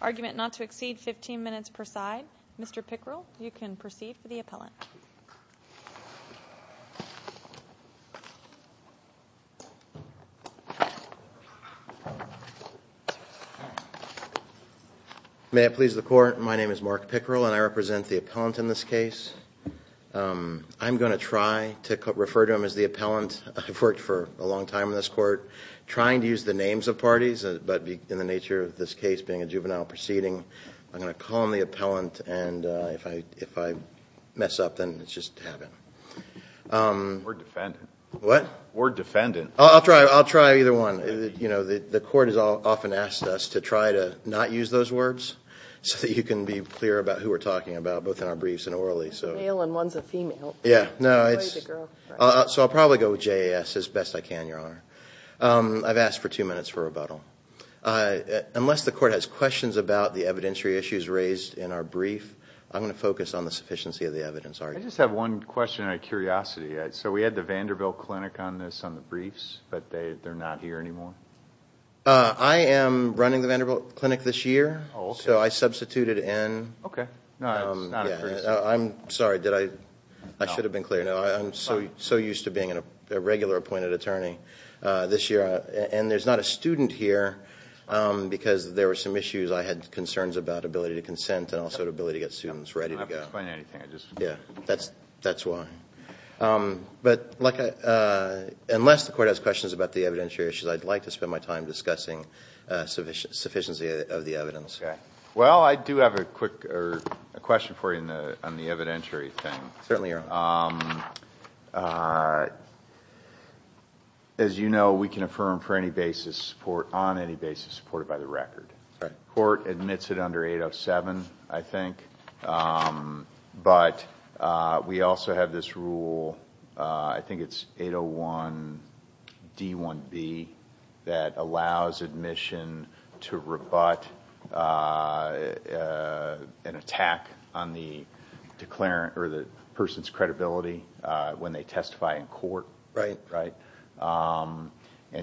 argument not to exceed 15 minutes per side. Mr. Pickrell, you can proceed for the appellant. May it please the court, my name is Mark Pickrell and I represent the appellant in this case. I'm going to try to refer to him as the appellant. I've worked for a long time in this court, trying to use the names of parties, but in the nature of this case being a juvenile proceeding, I'm going to call him the appellant and if I mess up then it's just to have him. We're defendants. What? We're defendants. I'll try either one. The court has often asked us to try to not use those words so that you can be clear about who we're talking about, both in our briefs and orally. One's a male and one's a female. So I'll probably go with JAS as best I can, Your Honor. I've asked for two minutes for rebuttal. Unless the court has questions about the evidentiary issues raised in our brief, I'm going to focus on the sufficiency of the evidence. I just have one question out of curiosity. So we had the Vanderbilt Clinic on this, on the briefs, but they're not here anymore? I am running the Vanderbilt Clinic this year, so I substituted in. Okay. I'm sorry, I should have been clear. I'm so used to being a regular appointed attorney this year and there's not a student here because there were some issues. I had concerns about ability to consent and also ability to get students ready to go. Yeah, that's why. But unless the court has questions about the evidentiary issues, I'd like to spend my time discussing sufficiency of the evidence. Okay. Well, I do have a quick question for you on the evidentiary thing. Certainly, Your Honor. As you know, we can affirm on any basis supported by the record. The court admits it under 807, I think. But we also have this rule, I think it's 801 D1B, that allows admission to rebut an attack on the person's credibility when they testify in court. Right. And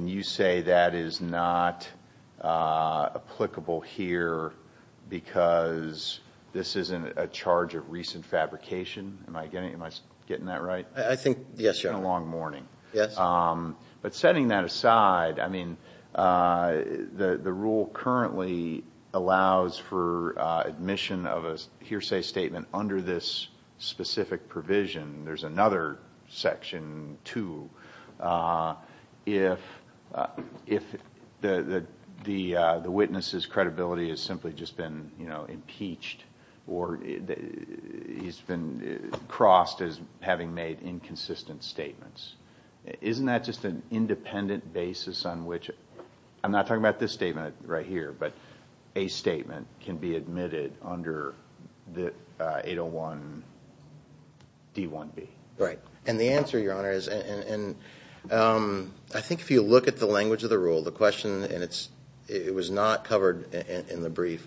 you say that is not applicable here because this isn't a charge of recent fabrication? Am I getting that right? I think, yes, Your Honor. It's been a long morning. Yes. But setting that aside, the rule currently allows for admission of a hearsay statement under this specific provision. There's another section, too, if the witness's credibility has simply just been impeached or he's been crossed as having made inconsistent statements. Isn't that just an independent basis on which, I'm not talking about this statement right here, but a statement can be admitted under 801 D1B? Right. And the answer, Your Honor, is I think if you look at the language of the rule, the question, and it was not covered in the brief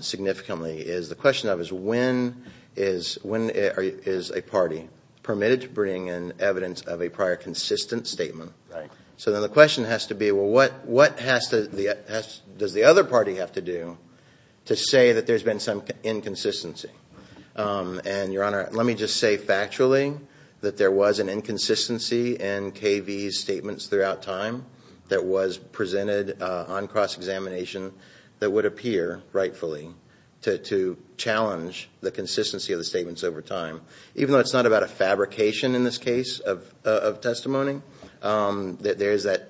significantly, is when is a party permitted to bring in evidence of a prior consistent statement? Right. So then the question has to be, well, what does the other party have to do to say that there's been some inconsistency? And, Your Honor, let me just say factually that there was an inconsistency in K.V.'s statements throughout time that was presented on cross-examination that would appear rightfully to challenge the consistency of the statements over time. Even though it's not about a fabrication in this case of testimony, there is that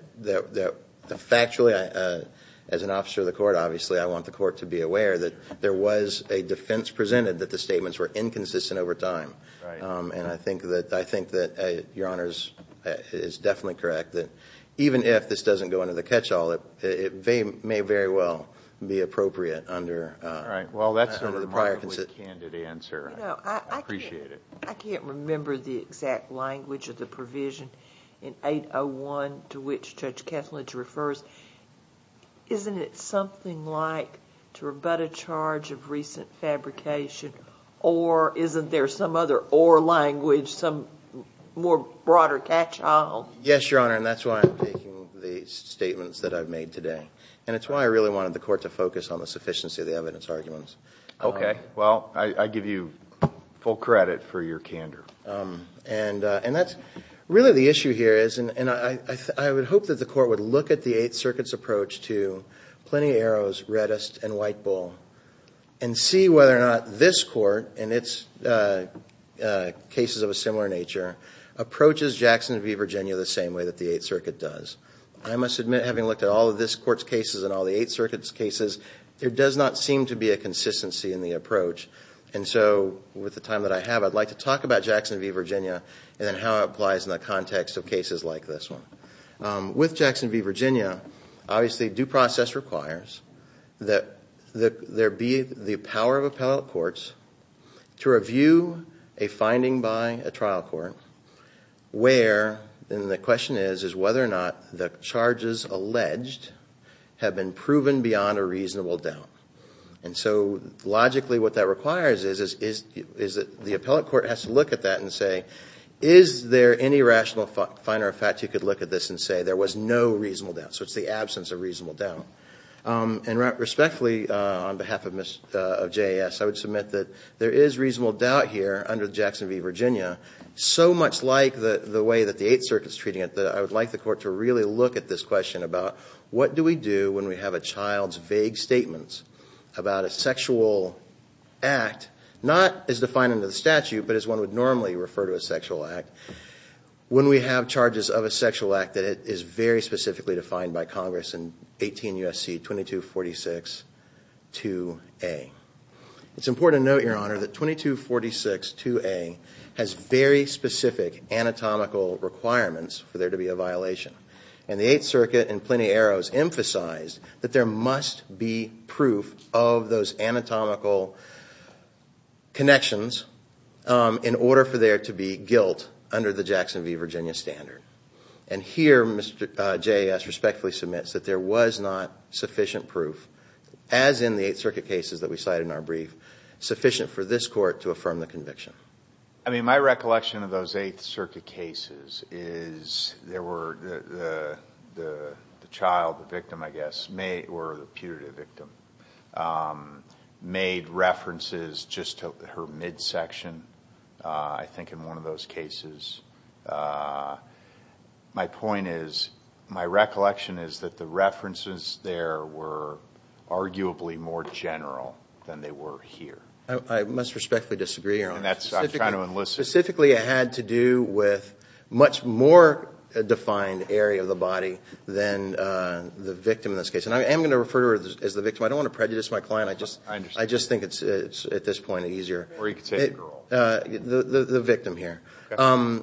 factually, as an officer of the court, obviously I want the court to be aware that there was a defense presented that the statements were inconsistent over time. Right. And I think that Your Honor is definitely correct that even if this doesn't go under the catch-all, it may very well be appropriate under the prior consistency. Right. Well, that's a remarkably candid answer. I appreciate it. I can't remember the exact language of the provision in 801 to which Judge Kethledge refers. Isn't it something like to rebut a charge of recent fabrication or isn't there some other or language, some more broader catch-all? Yes, Your Honor, and that's why I'm taking the statements that I've made today. And it's why I really wanted the court to focus on the sufficiency of the evidence arguments. Okay. Well, I give you full credit for your candor. And that's really the issue here is, and I would hope that the court would look at the Eighth Circuit's approach to Plenty of Arrows, Reddist, and White Bull and see whether or not this court and its cases of a similar nature approaches Jackson v. Virginia the same way that the Eighth Circuit does. I must admit, having looked at all of this court's cases and all the Eighth Circuit's cases, there does not seem to be a consistency in the approach. And so with the time that I have, I'd like to talk about Jackson v. Virginia and how it applies in the context of cases like this one. With Jackson v. Virginia, obviously due process requires that there be the power of appellate courts to review a finding by a trial court where, and the question is, is whether or not the charges alleged have been proven beyond a reasonable doubt. And so logically what that requires is that the appellate court has to look at that and say, is there any rational finder of fact you could look at this and say there was no reasonable doubt? So it's the absence of reasonable doubt. And respectfully, on behalf of JAS, I would submit that there is reasonable doubt here under Jackson v. Virginia, so much like the way that the Eighth Circuit's treating it, that I would like the court to really look at this question about what do we do when we have a child's vague statements about a sexual act, not as defined under the statute, but as one would normally refer to a sexual act, when we have charges of a sexual act that is very specifically defined by Congress in 18 U.S.C. 2246-2A. It's important to note, Your Honor, that 2246-2A has very specific anatomical requirements for there to be a violation. And the Eighth Circuit in Plenty Arrows emphasized that there must be proof of those anatomical connections in order for there to be guilt under the Jackson v. Virginia standard. And here, Mr. JAS respectfully submits that there was not sufficient proof, as in the Eighth Circuit cases that we cite in our brief, sufficient for this court to affirm the conviction. I mean, my recollection of those Eighth Circuit cases is there were the child, the victim, I guess, or the putative victim, made references just to her midsection, I think, in one of those cases. My point is, my recollection is that the references there were arguably more general than they were here. I must respectfully disagree, Your Honor. And that's what I'm trying to enlist. Specifically, it had to do with much more defined area of the body than the victim in this case. And I am going to refer to her as the victim. I don't want to prejudice my client. I just think it's, at this point, easier. Or you could say the girl. The victim here. Okay.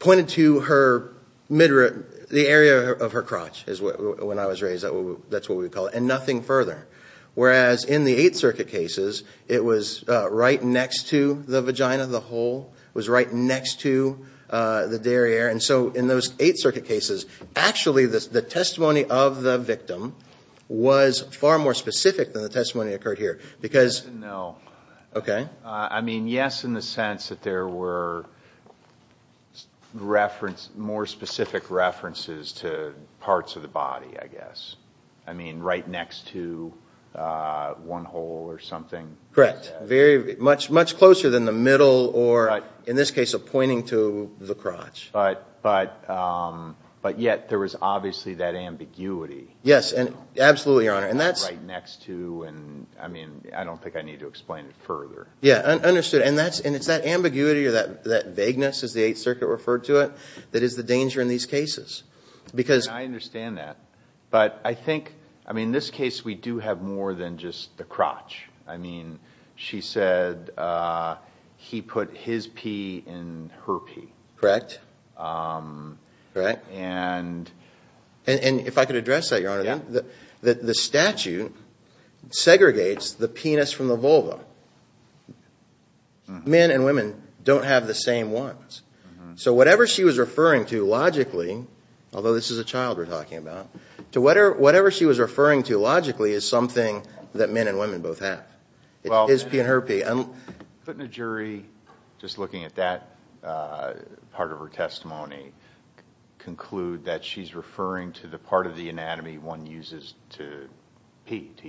Pointed to her midrib, the area of her crotch, is what, when I was raised, that's what we would call it, and nothing further. Whereas, in the Eighth Circuit cases, it was right next to the vagina, the hole. It was right next to the derriere. And so, in those Eighth Circuit cases, actually, the testimony of the victim was far more specific than the testimony that occurred here. No. Okay. I mean, yes, in the sense that there were more specific references to parts of the body, I guess. I mean, right next to one hole or something. Correct. Much closer than the middle or, in this case, pointing to the crotch. But yet, there was obviously that ambiguity. Yes. Absolutely, Your Honor. Right next to, and I mean, I don't think I need to explain it further. Yeah. Understood. And it's that ambiguity or that vagueness, as the Eighth Circuit referred to it, that is the danger in these cases. I understand that. But I think, I mean, in this case, we do have more than just the crotch. I mean, she said he put his pee in her pee. Correct. And if I could address that, Your Honor, the statute segregates the penis from the vulva. Men and women don't have the same ones. So whatever she was referring to logically, although this is a child we're talking about, to whatever she was referring to logically is something that men and women both have, his pee and her pee. Couldn't a jury, just looking at that part of her testimony, conclude that she's referring to the part of the anatomy one uses to pee, to urinate?